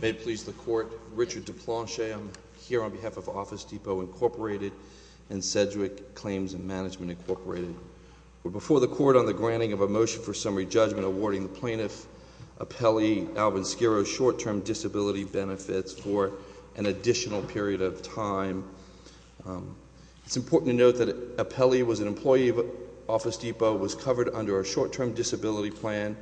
May it please the Court, Richard Deplanche, I'm here on behalf of Office Depot, Incorporated and Sedgwick Claims and Management, Incorporated. We're before the Court on the granting of a motion for summary judgment awarding the plaintiff, Apelli Alvin Schiro, short-term disability benefits for an additional period of time. It's important to note that Apelli was an employee of Office Depot, was covered under a short-term disability plan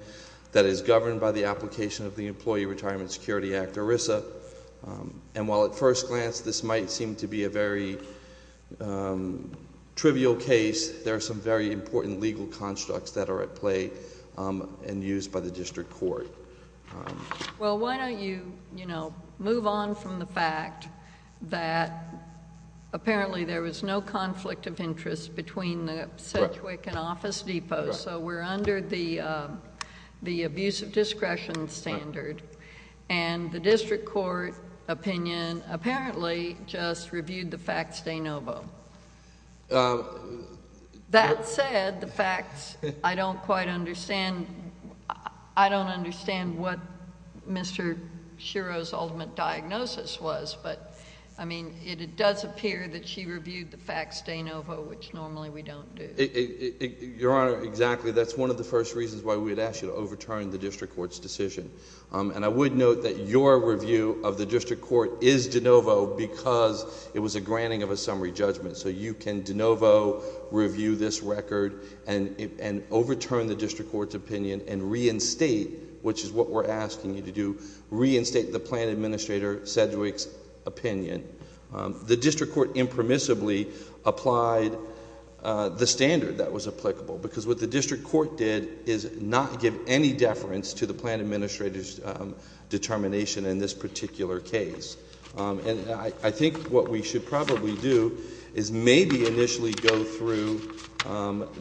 that is governed by the application of the Employee Retirement Security Act, ERISA, and while at first glance this might seem to be a very trivial case, there are some very important legal constructs that are at play and used by the District Court. Well, why don't you, you know, move on from the fact that apparently there was no conflict of interest between the Sedgwick and Office Depot, so we're under the abuse of discretion standard, and the District Court opinion apparently just reviewed the facts de novo. That said, the facts, I don't quite understand... I don't understand what Mr. Schiro's ultimate diagnosis was, but I mean, it does appear that she reviewed the facts de novo, which normally we don't do. Your Honor, exactly. That's one of the first reasons why we'd ask you to overturn the District Court's decision, and I would note that your review of the District Court is de novo because it was a granting of a summary judgment, so you can de novo review this record and overturn the District Court's opinion and reinstate, which is what we're asking you to do, reinstate the Planned Administrator Sedgwick's opinion. The District Court impermissibly applied the standard that was applicable, because what the District Court did is not give any deference to the Planned Administrator's determination in this particular case, and I think what we should probably do is maybe initially go through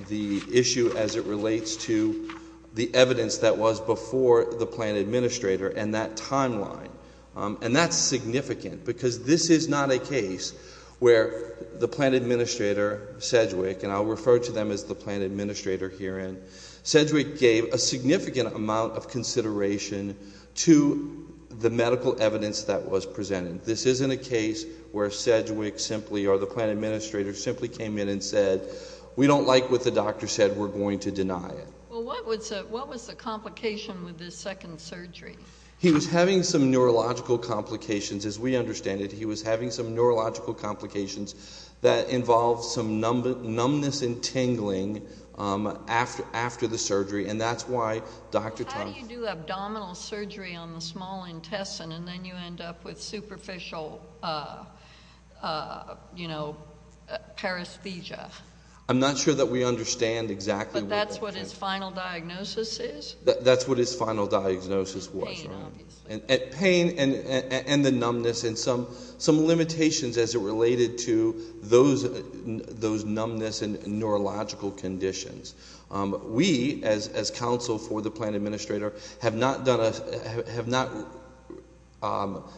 the issue as it relates to the evidence that was before the Planned Administrator and that timeline, and that's significant, because this is not a case where the Planned Administrator Sedgwick, and I'll refer to them as the Planned Administrator herein, Sedgwick gave a significant amount of consideration to the medical evidence that was presented. This isn't a case where Sedgwick simply, or the Planned Administrator, simply came in and said, we don't like what the doctor said, we're going to deny it. Well, what was the complication with the second surgery? He was having some neurological complications, as we understand it, he was having some neurological complications that involved some numbness and tingling after the surgery, and that's why Dr. Tom... How do you do abdominal surgery on the small intestine and then you end up with superficial paresthesia? I'm not sure that we understand exactly what... That's what his final diagnosis is? That's what his final diagnosis was, right? Pain, obviously. Pain and the numbness and some limitations as it related to those numbness and neurological conditions. We, as counsel for the Planned Administrator, have not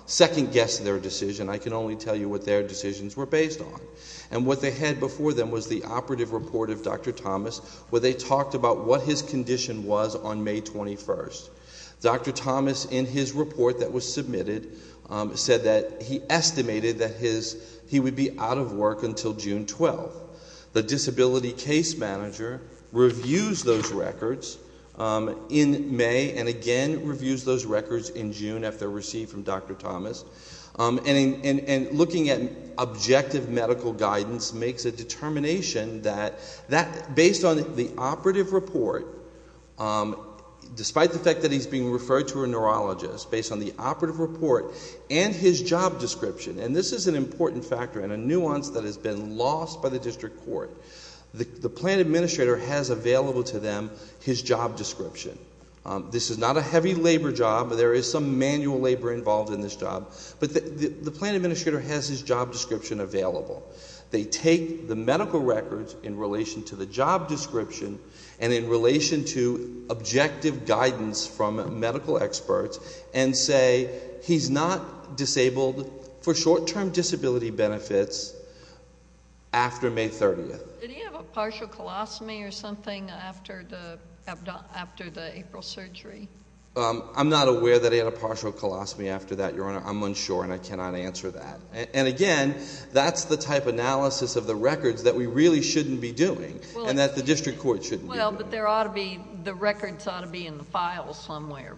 second-guessed their decision, I can only tell you what their decisions were based on. And what they had before them was the operative report of Dr. Thomas, where they talked about what his condition was on May 21st. Dr. Thomas, in his report that was submitted, said that he estimated that he would be out of work until June 12th. The disability case manager reviews those records in May and again reviews those records in June after they're received from Dr. Thomas. And looking at objective medical guidance makes a determination that, based on the operative report, despite the fact that he's being referred to a neurologist, based on the operative report and his job description, and this is an important factor and a nuance that has been lost by the district court, the Planned Administrator has available to them his job description. This is not a heavy labor job, there is some manual labor involved in this job, but the Planned Administrator has his job description available. They take the medical records in relation to the job description and in relation to objective guidance from medical experts and say he's not disabled for short-term disability benefits after May 30th. Did he have a partial colostomy or something after the April surgery? I'm not aware that he had a partial colostomy after that, Your Honor. I'm unsure and I cannot answer that. And again, that's the type of analysis of the records that we really shouldn't be doing and that the district court shouldn't be doing. Well, but there ought to be, the records ought to be in the files somewhere.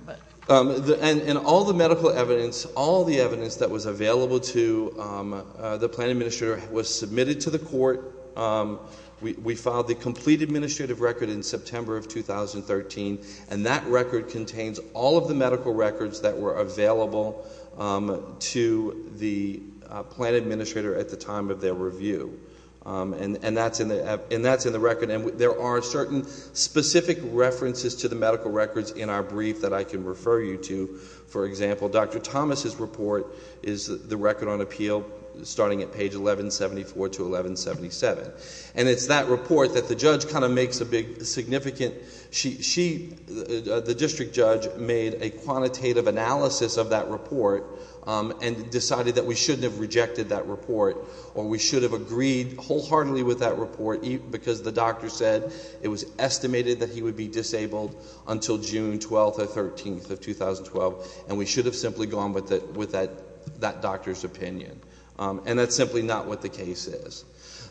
And all the medical evidence, all the evidence that was available to the Planned Administrator was submitted to the court. We filed the complete administrative record in September of 2013, and that record contains all of the medical records that were available to the Planned Administrator at the time of their review. And that's in the record. And there are certain specific references to the medical records in our brief that I can refer you to. For example, Dr. Thomas's report is the record on appeal starting at page 1174 to 1177. And it's that report that the judge kind of makes a big significant, she, the district judge made a quantitative analysis of that report and decided that we shouldn't have rejected that report or we should have agreed wholeheartedly with that report because the And we should have simply gone with that doctor's opinion. And that's simply not what the case is.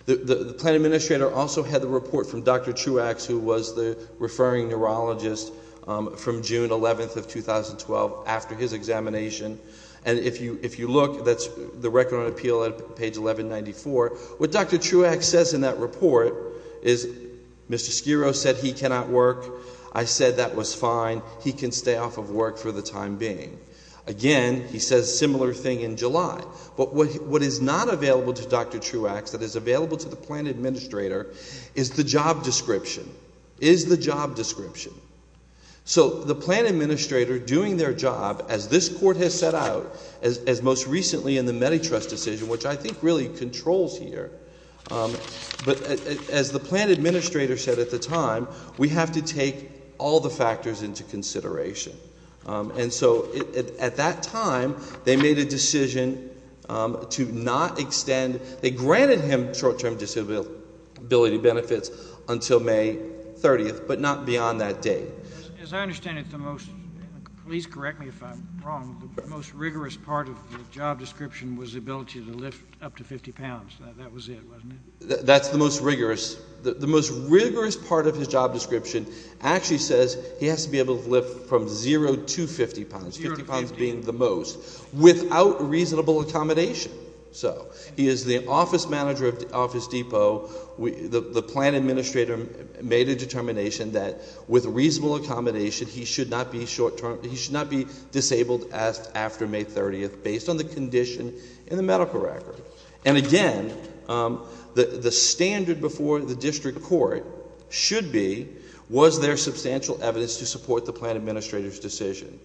The Planned Administrator also had the report from Dr. Truax, who was the referring neurologist, from June 11th of 2012, after his examination. And if you look, that's the record on appeal at page 1194. What Dr. Truax says in that report is, Mr. Sciro said he cannot work. I said that was fine. He can stay off of work for the time being. Again, he says similar thing in July. But what is not available to Dr. Truax, that is available to the Planned Administrator, is the job description. Is the job description. So the Planned Administrator doing their job, as this court has set out, as most recently in the Meditrust decision, which I think really controls here, but as the Planned Administrator said at the time, we have to take all the factors into consideration. And so, at that time, they made a decision to not extend, they granted him short-term disability benefits until May 30th, but not beyond that date. As I understand it, the most, please correct me if I'm wrong, the most rigorous part of the job description was the ability to lift up to 50 pounds, that was it, wasn't it? That's the most rigorous, the most rigorous part of his job description actually says he has to be able to lift from 0 to 50 pounds, 50 pounds being the most, without reasonable accommodation. So, he is the office manager of the Office Depot, the Planned Administrator made a determination that with reasonable accommodation, he should not be short-term, he should not be disabled after May 30th, based on the condition in the medical record. And again, the standard before the district court should be, was there substantial evidence to support the Planned Administrator's decision?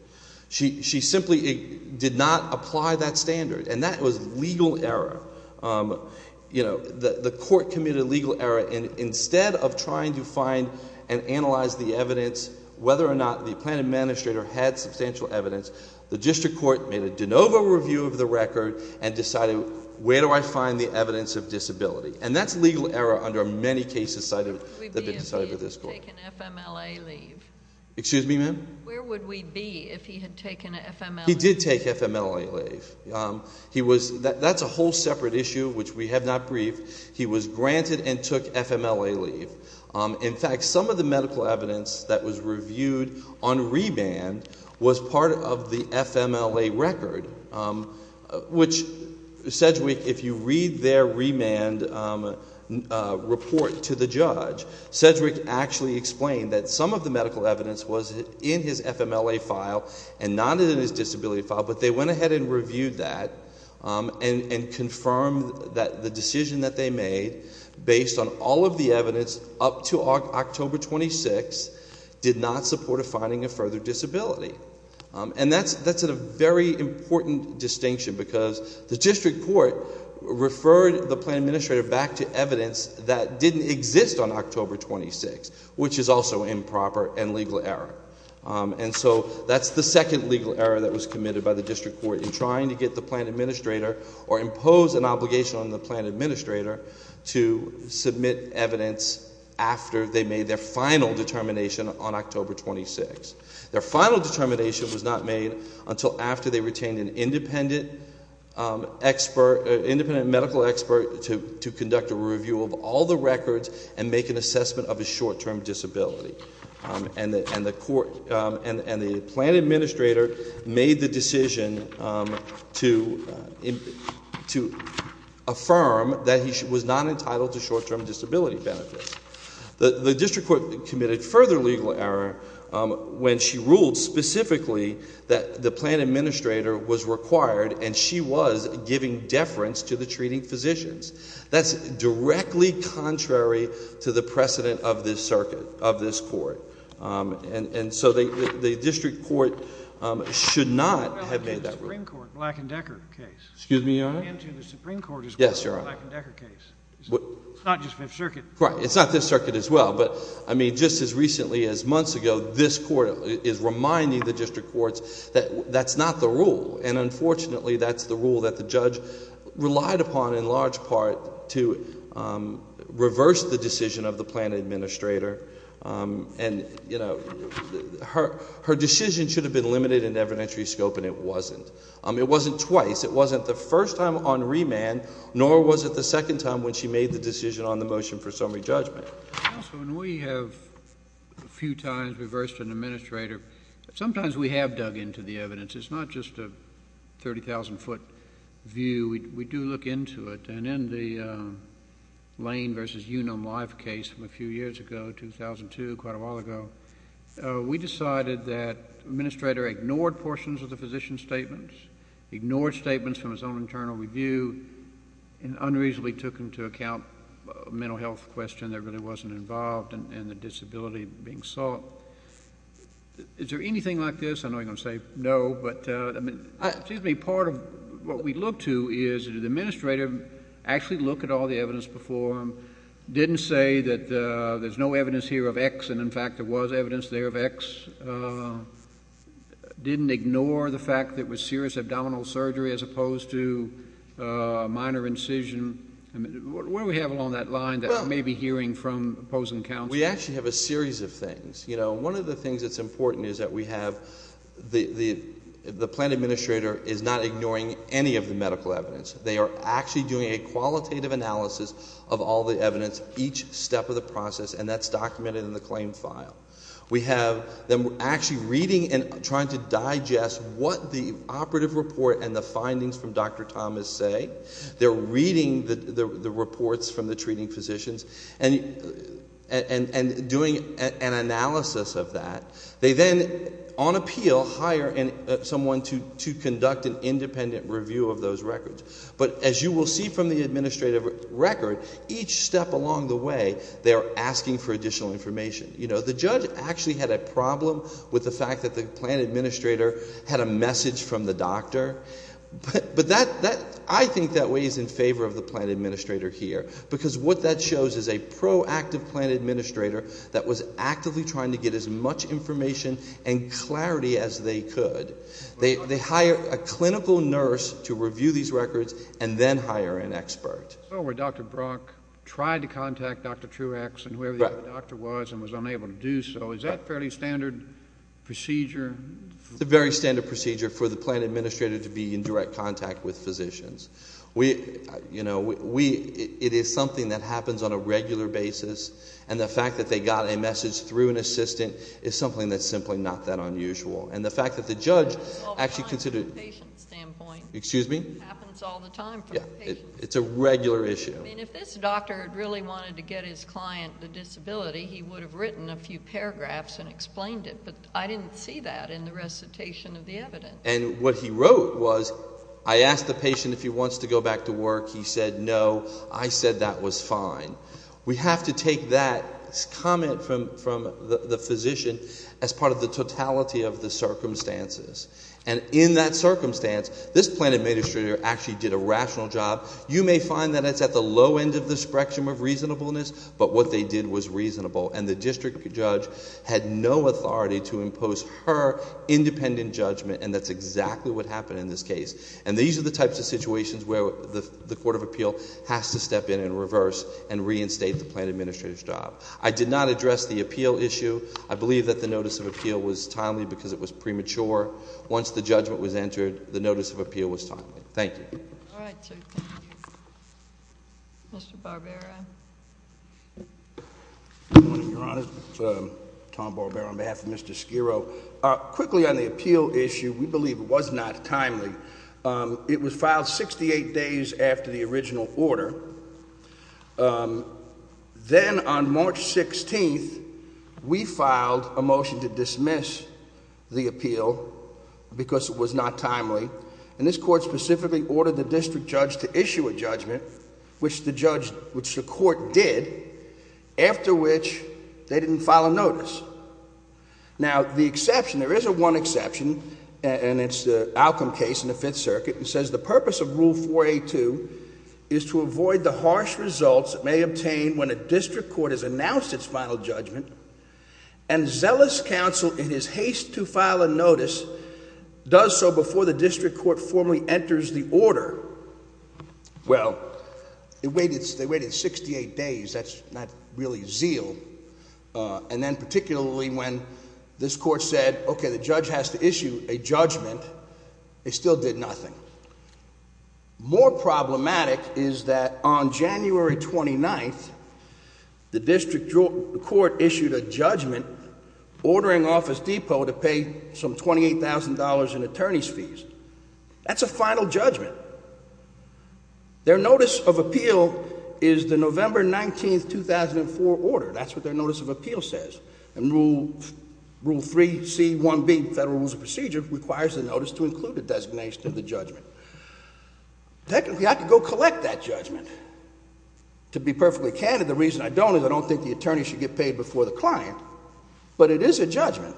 She simply did not apply that standard, and that was legal error. You know, the court committed legal error, and instead of trying to find and analyze the evidence, whether or not the Planned Administrator had substantial evidence, the district court made a de novo review of the record and decided, where do I find the evidence of disability? And that's legal error under many cases cited that have been decided by the district court. Where would we be if he had taken FMLA leave? He did take FMLA leave. He was, that's a whole separate issue, which we have not briefed. He was granted and took FMLA leave. In fact, some of the medical evidence that was reviewed on remand was part of the FMLA record, which Sedgwick, if you read their remand report to the judge, Sedgwick actually explained that some of the medical evidence was in his FMLA file and not in his disability file, but they went ahead and reviewed that and confirmed that the decision that they made, based on all of the evidence up to October 26, did not support a finding of further disability. And that's a very important distinction because the district court referred the Planned Administrator back to evidence that didn't exist on October 26, which is also improper and legal error. And so that's the second legal error that was committed by the district court in trying to get the Planned Administrator or impose an obligation on the Planned Administrator to submit evidence after they made their final determination on October 26. Their final determination was not made until after they retained an independent medical expert to conduct a review of all the records and make an assessment of his short-term disability. And the Planned Administrator made the decision to affirm that he was not entitled to short-term disability benefits. The district court committed further legal error when she ruled specifically that the Planned Administrator was required and she was giving deference to the treating physicians. That's directly contrary to the precedent of this circuit, of this court. And so the district court should not have made that rule. I'm referring to the Supreme Court Black and Decker case. Excuse me, Your Honor? I'm referring to the Supreme Court's Black and Decker case. Yes, Your Honor. It's not just Fifth Circuit. Right. It's not just Fifth Circuit as well. But I mean, just as recently as months ago, this court is reminding the district courts that that's not the rule, and unfortunately that's the rule that the judge relied upon in large part to reverse the decision of the Planned Administrator. And you know, her decision should have been limited in evidentiary scope, and it wasn't. It wasn't twice. It wasn't the first time on remand, nor was it the second time when she made the decision on the motion for summary judgment. Counsel, when we have a few times reversed an administrator, sometimes we have dug into the evidence. It's not just a 30,000-foot view. We do look into it. And in the Lane v. Unum Life case from a few years ago, 2002, quite a while ago, we decided that the administrator ignored portions of the physician's statements, ignored statements from his own internal review, and unreasonably took into account a mental health question that really wasn't involved in the disability being sought. Is there anything like this? I know you're going to say no. But, excuse me, part of what we look to is, did the administrator actually look at all the evidence before him, didn't say that there's no evidence here of X and, in fact, there was evidence there of X, didn't ignore the fact that it was serious abdominal surgery as opposed to a minor incision? What do we have along that line that we may be hearing from opposing counsel? We actually have a series of things. One of the things that's important is that we have the plan administrator is not ignoring any of the medical evidence. They are actually doing a qualitative analysis of all the evidence, each step of the process, and that's documented in the claim file. We have them actually reading and trying to digest what the operative report and the findings from Dr. Thomas say. They're reading the reports from the treating physicians and doing an analysis of that. They then, on appeal, hire someone to conduct an independent review of those records. But as you will see from the administrative record, each step along the way, they are asking for additional information. The judge actually had a problem with the fact that the plan administrator had a message from the doctor. But I think that weighs in favor of the plan administrator here, because what that shows is a proactive plan administrator that was actively trying to get as much information and clarity as they could. They hire a clinical nurse to review these records and then hire an expert. So where Dr. Brock tried to contact Dr. Truax and whoever the other doctor was and was unable to do so, is that fairly standard procedure? It's a very standard procedure for the plan administrator to be in direct contact with physicians. It is something that happens on a regular basis. And the fact that they got a message through an assistant is something that's simply not that unusual. And the fact that the judge actually considered... Well, from a patient standpoint... Excuse me? It happens all the time from a patient standpoint. It's a regular issue. I mean, if this doctor had really wanted to get his client a disability, he would have written a few paragraphs and explained it. But I didn't see that in the recitation of the evidence. And what he wrote was, I asked the patient if he wants to go back to work. He said no. I said that was fine. We have to take that comment from the physician as part of the totality of the circumstances. And in that circumstance, this plan administrator actually did a rational job. You may find that it's at the low end of the spectrum of reasonableness, but what they did was reasonable. And the district judge had no authority to impose her independent judgment, and that's exactly what happened in this case. And these are the types of situations where the Court of Appeal has to step in and reverse and reinstate the plan administrator's job. I did not address the appeal issue. I believe that the notice of appeal was timely because it was premature. Once the judgment was entered, the notice of appeal was timely. Thank you. All right. Thank you. Mr. Barbera? Good morning, Your Honor. It's Tom Barbera on behalf of Mr. Sciro. Quickly on the appeal issue, we believe it was not timely. It was filed 68 days after the original order. Then on March 16th, we filed a motion to dismiss the appeal because it was not timely. And this court specifically ordered the district judge to issue a judgment, which the judge which the court did, after which they didn't file a notice. Now the exception, there is a one exception, and it's the Alcom case in the Fifth Circuit, and it says the purpose of Rule 4A.2 is to avoid the harsh results it may obtain when a district court has announced its final judgment and zealous counsel, in his haste to file a notice, does so before the district court formally enters the order. Well, they waited 68 days. That's not really zeal. And then particularly when this court said, okay, the judge has to issue a judgment, it still did nothing. More problematic is that on January 29th, the district court issued a judgment ordering Office Depot to pay some $28,000 in attorney's fees. That's a final judgment. Their notice of appeal is the November 19th, 2004 order. That's what their notice of appeal says. And Rule 3C1B, Federal Rules of Procedure, requires the notice to include a designation of the judgment. Technically, I could go collect that judgment. To be perfectly candid, the reason I don't is I don't think the attorney should get paid before the client, but it is a judgment.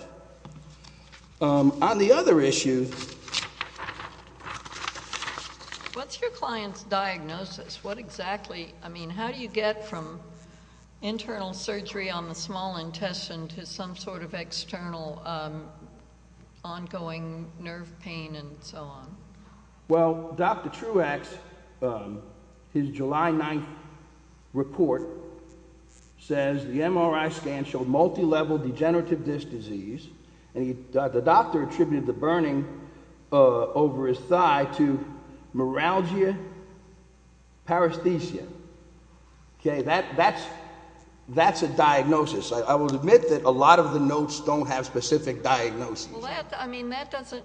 On the other issue... What's your client's diagnosis? What exactly... I mean, how do you get from internal surgery on the small intestine to some sort of external ongoing nerve pain and so on? Well, Dr. Truax, his July 9th report says the MRI scan showed multilevel degenerative disc disease, and the doctor attributed the burning over his thigh to neuralgia paresthesia. Okay, that's a diagnosis. I will admit that a lot of the notes don't have specific diagnoses. Well, I mean, that doesn't...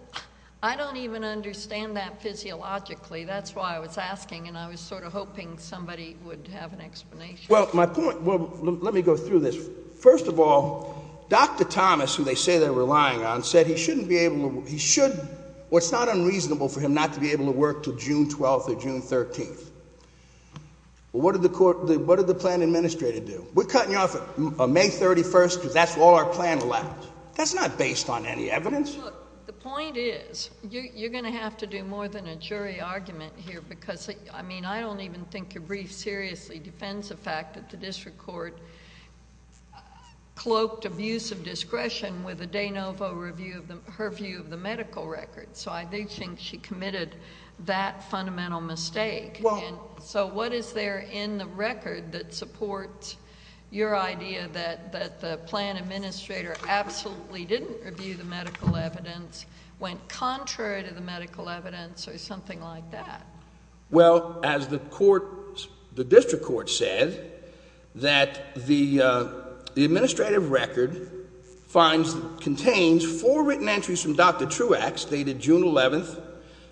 I don't even understand that physiologically. That's why I was asking, and I was sort of hoping somebody would have an explanation. Well, my point... Well, let me go through this. First of all, Dr. Thomas, who they say they're relying on, said he shouldn't be able to... He should... Well, it's not unreasonable for him not to be able to work till June 12th or June 13th. Well, what did the court... What did the plan administrator do? We're cutting you off on May 31st because that's all our plan left. That's not based on any evidence. Look, the point is, you're going to have to do more than a jury argument here because... I mean, I don't even think your brief seriously defends the fact that the district court cloaked abuse of discretion with a de novo review of her view of the medical record, so I do think she committed that fundamental mistake. So what is there in the record that supports your idea that the plan administrator absolutely didn't review the medical evidence, went contrary to the medical evidence, or something like that? Well, as the district court said, that the administrative record contains four written entries from Dr. Truax dated June 11th,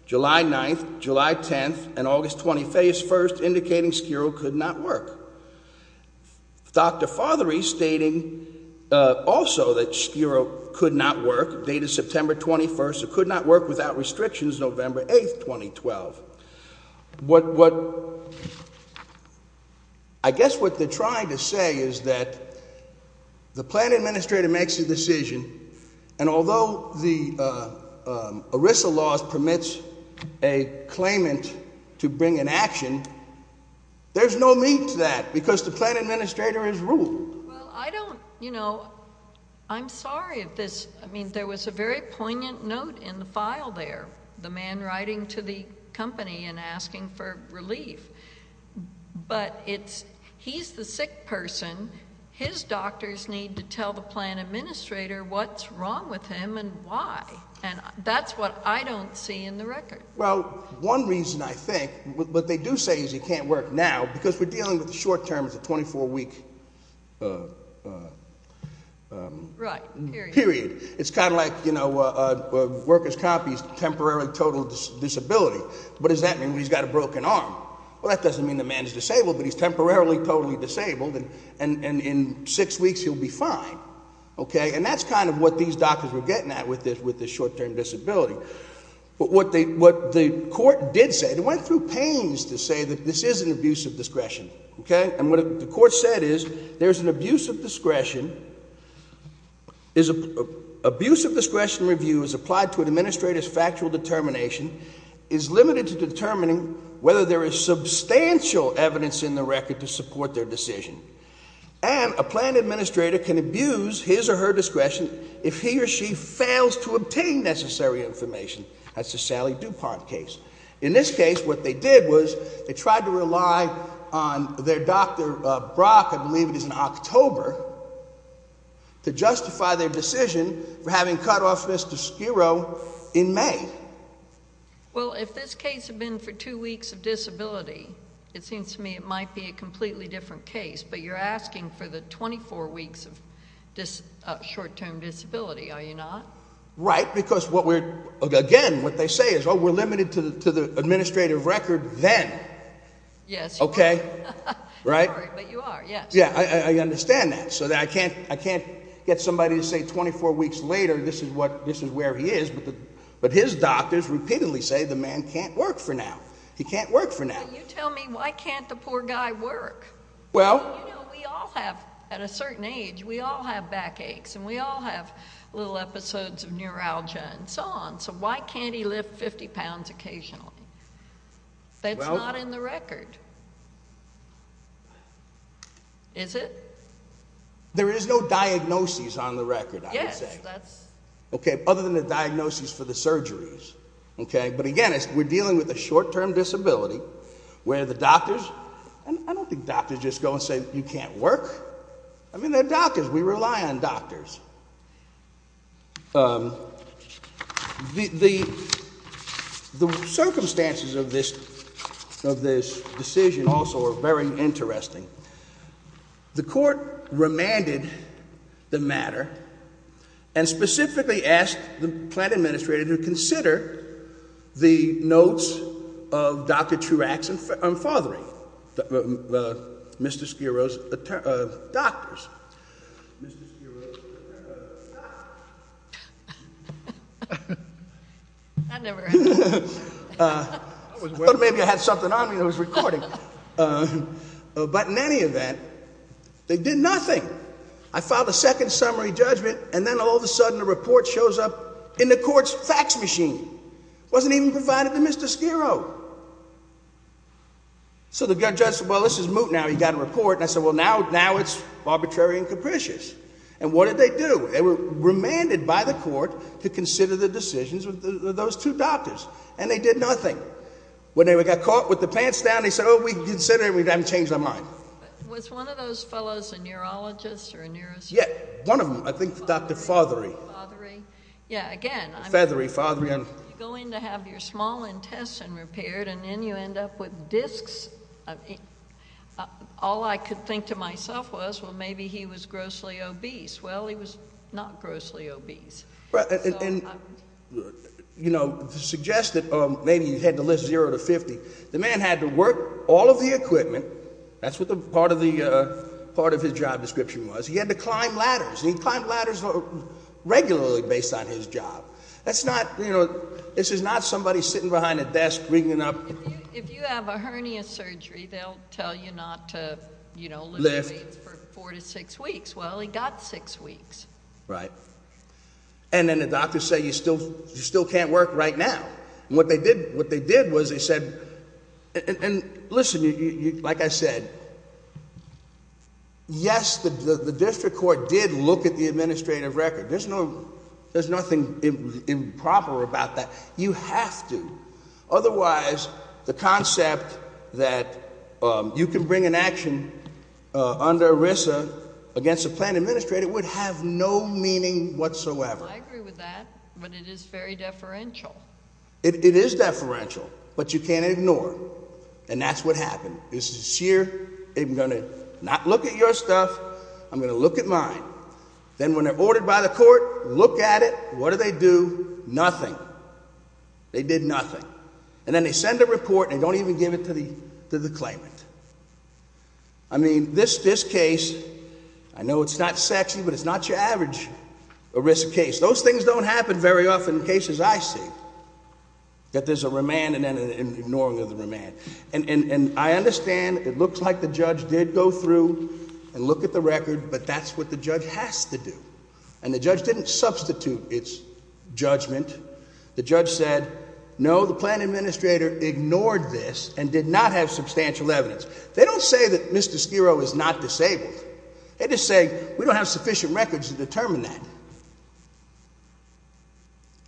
July 9th, July 10th, and August 21st, indicating Skiro could not work. Dr. Fothery stating also that Skiro could not work, dated September 21st, or could not work without restrictions November 8th, 2012. What... I guess what they're trying to say is that the plan administrator makes a decision, and although the ERISA law permits a claimant to bring an action, there's no need to that because the plan administrator has ruled. Well, I don't, you know... I'm sorry of this. I mean, there was a very poignant note in the file there, the man writing to the company and asking for relief. But he's the sick person. His doctors need to tell the plan administrator what's wrong with him and why, and that's what I don't see in the record. Well, one reason, I think, what they do say is he can't work now because we're dealing with the short term. It's a 24-week period. It's kind of like, you know, a worker's copy is temporarily total disability. What does that mean when he's got a broken arm? Well, that doesn't mean the man is disabled, but he's temporarily totally disabled, and in six weeks he'll be fine, okay? And that's kind of what these doctors were getting at with this short-term disability. But what the court did say, they went through pains to say that this is an abuse of discretion, okay? And what the court said is there's an abuse of discretion, abuse of discretion review is applied to an administrator's factual determination, is limited to determining whether there is substantial evidence in the record to support their decision, and a plan administrator can abuse his or her discretion if he or she fails to obtain necessary information. That's the Sally DuPont case. In this case, what they did was they tried to rely on their doctor, Brock, I believe it is in October, to justify their decision for having cut off Mr. Skirro in May. Well, if this case had been for two weeks of disability, it seems to me it might be a completely different case, but you're asking for the 24 weeks of short-term disability, are you not? Right, because, again, what they say is, oh, we're limited to the administrative record then, okay? Sorry, but you are, yes. Yeah, I understand that. So I can't get somebody to say 24 weeks later this is where he is, but his doctors repeatedly say the man can't work for now. He can't work for now. Well, you tell me, why can't the poor guy work? Well. You know, we all have, at a certain age, we all have back aches and we all have little episodes of neuralgia and so on, so why can't he lift 50 pounds occasionally? That's not in the record, is it? There is no diagnosis on the record, I would say. Yes, that's. Okay, other than the diagnosis for the surgeries, okay? But, again, we're dealing with a short-term disability where the doctors, and I don't think doctors just go and say you can't work. I mean, they're doctors. We rely on doctors. The circumstances of this decision also are very interesting. The court remanded the matter and specifically asked the plant administrator to consider the notes of Dr. Truax and fathering, Mr. Skiro's doctors. I thought maybe I had something on me that was recording. But in any event, they did nothing. I filed a second summary judgment, and then all of a sudden the report shows up in the court's fax machine. It wasn't even provided to Mr. Skiro. So the judge said, well, this is moot now. He got a report, and I said, well, now it's arbitrary and capricious. And what did they do? They were remanded by the court to consider the decisions of those two doctors, and they did nothing. When they got caught with the pants down, they said, oh, we can consider it. We haven't changed our mind. Was one of those fellows a neurologist or a neurosurgeon? Yeah, one of them. I think Dr. Fothery. Fothery? Yeah, again. Feathery, Fothery. You go in to have your small intestine repaired, and then you end up with discs. All I could think to myself was, well, maybe he was grossly obese. Well, he was not grossly obese. And, you know, to suggest that maybe you had to lift zero to 50, the man had to work all of the equipment. That's what part of his job description was. He had to climb ladders, and he climbed ladders regularly based on his job. That's not, you know, this is not somebody sitting behind a desk ringing up. If you have a hernia surgery, they'll tell you not to, you know, lift for four to six weeks. Well, he got six weeks. Right. And then the doctors say you still can't work right now. And what they did was they said, and listen, like I said, yes, the district court did look at the administrative record. There's nothing improper about that. You have to. Otherwise, the concept that you can bring an action under ERISA against a planned administrator would have no meaning whatsoever. I agree with that, but it is very deferential. It is deferential, but you can't ignore it. And that's what happened. This is sincere. I'm going to not look at your stuff. I'm going to look at mine. Then when they're ordered by the court, look at it. What do they do? Nothing. They did nothing. And then they send a report, and they don't even give it to the claimant. I mean, this case, I know it's not sexy, but it's not your average ERISA case. Those things don't happen very often in cases I see, that there's a remand and then an ignoring of the remand. And I understand it looks like the judge did go through and look at the record, but that's what the judge has to do. And the judge didn't substitute its judgment. The judge said, no, the planned administrator ignored this and did not have substantial evidence. They don't say that Mr. Skiro is not disabled. They just say, we don't have sufficient records to determine that.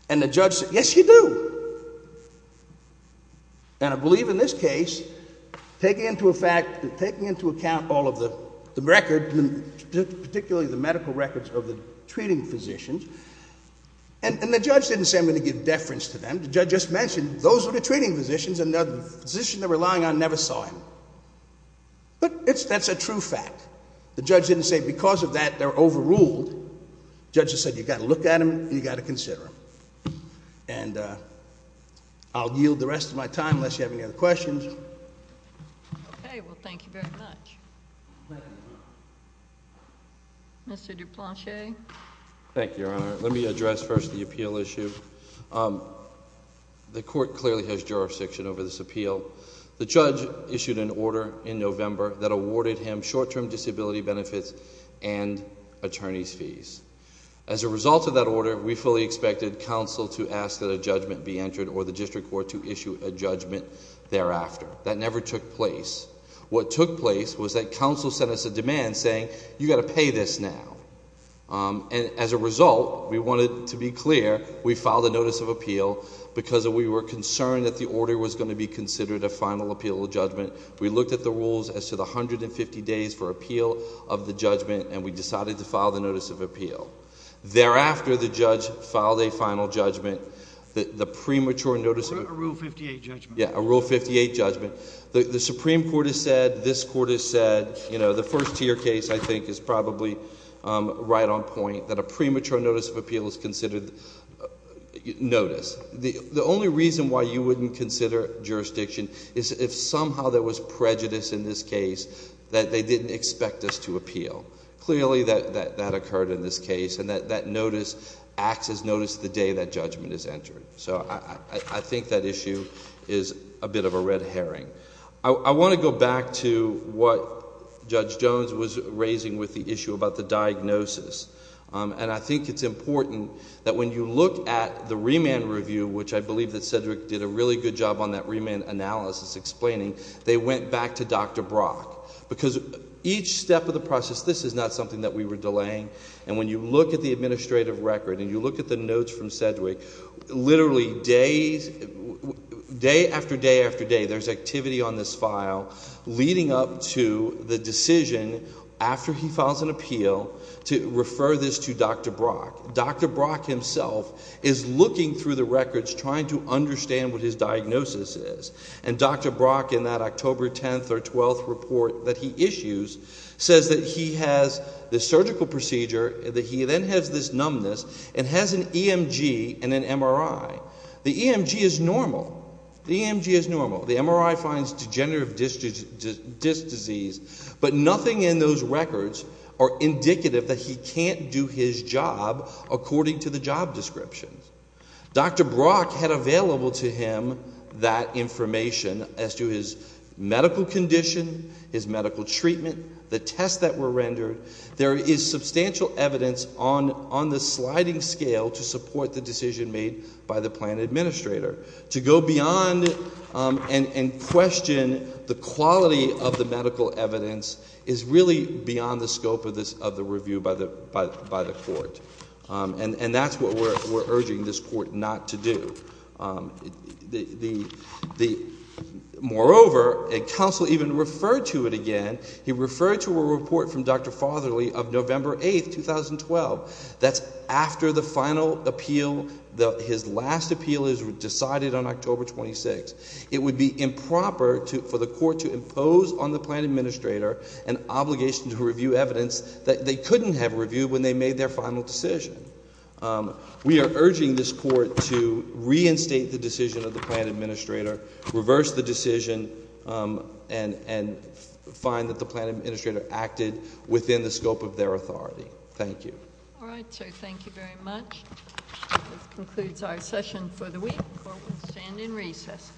And the judge said, yes, you do. And I believe in this case, taking into account all of the record, particularly the medical records of the treating physicians, And the judge didn't say, I'm going to give deference to them. The judge just mentioned, those are the treating physicians, and the physician they're relying on never saw him. But that's a true fact. The judge didn't say, because of that, they're overruled. The judge just said, you've got to look at them, and you've got to consider them. And I'll yield the rest of my time, unless you have any other questions. Okay, well, thank you very much. Thank you. Mr. Duplanche? Thank you, Your Honor. Let me address first the appeal issue. The court clearly has jurisdiction over this appeal. The judge issued an order in November that awarded him short-term disability benefits and attorney's fees. As a result of that order, we fully expected counsel to ask that a judgment be entered or the district court to issue a judgment thereafter. That never took place. What took place was that counsel sent us a demand saying, you've got to pay this now. And as a result, we wanted to be clear. We filed a notice of appeal because we were concerned that the order was going to be considered a final appeal judgment. We looked at the rules as to the 150 days for appeal of the judgment, and we decided to file the notice of appeal. Thereafter, the judge filed a final judgment. The premature notice of appeal. A Rule 58 judgment. Yeah, a Rule 58 judgment. The Supreme Court has said, this court has said, you know, the first tier case, I think, is probably right on point, that a premature notice of appeal is considered notice. The only reason why you wouldn't consider jurisdiction is if somehow there was prejudice in this case that they didn't expect us to appeal. Clearly, that occurred in this case, and that notice acts as notice the day that judgment is entered. So I think that issue is a bit of a red herring. I want to go back to what Judge Jones was raising with the issue about the diagnosis. And I think it's important that when you look at the remand review, which I believe that Sedgwick did a really good job on that remand analysis explaining, they went back to Dr. Brock. Because each step of the process, this is not something that we were delaying. And when you look at the administrative record and you look at the notes from Sedgwick, literally days, day after day after day, there's activity on this file leading up to the decision, after he files an appeal, to refer this to Dr. Brock. Dr. Brock himself is looking through the records, trying to understand what his diagnosis is. And Dr. Brock, in that October 10th or 12th report that he issues, says that he has this surgical procedure, that he then has this numbness, and has an EMG and an MRI. The EMG is normal. The EMG is normal. The MRI finds degenerative disc disease. But nothing in those records are indicative that he can't do his job according to the job description. Dr. Brock had available to him that information as to his medical condition, his medical treatment, the tests that were rendered. There is substantial evidence on the sliding scale to support the decision made by the plan administrator. To go beyond and question the quality of the medical evidence is really beyond the scope of the review by the court. And that's what we're urging this court not to do. Moreover, a counsel even referred to it again. He referred to a report from Dr. Fotherly of November 8th, 2012. That's after the final appeal, his last appeal is decided on October 26th. It would be improper for the court to impose on the plan administrator an obligation to review evidence that they couldn't have reviewed when they made their final decision. We are urging this court to reinstate the decision of the plan administrator, reverse the decision, and find that the plan administrator acted within the scope of their authority. Thank you. All right, sir. Thank you very much. This concludes our session for the week. The court will stand in recess.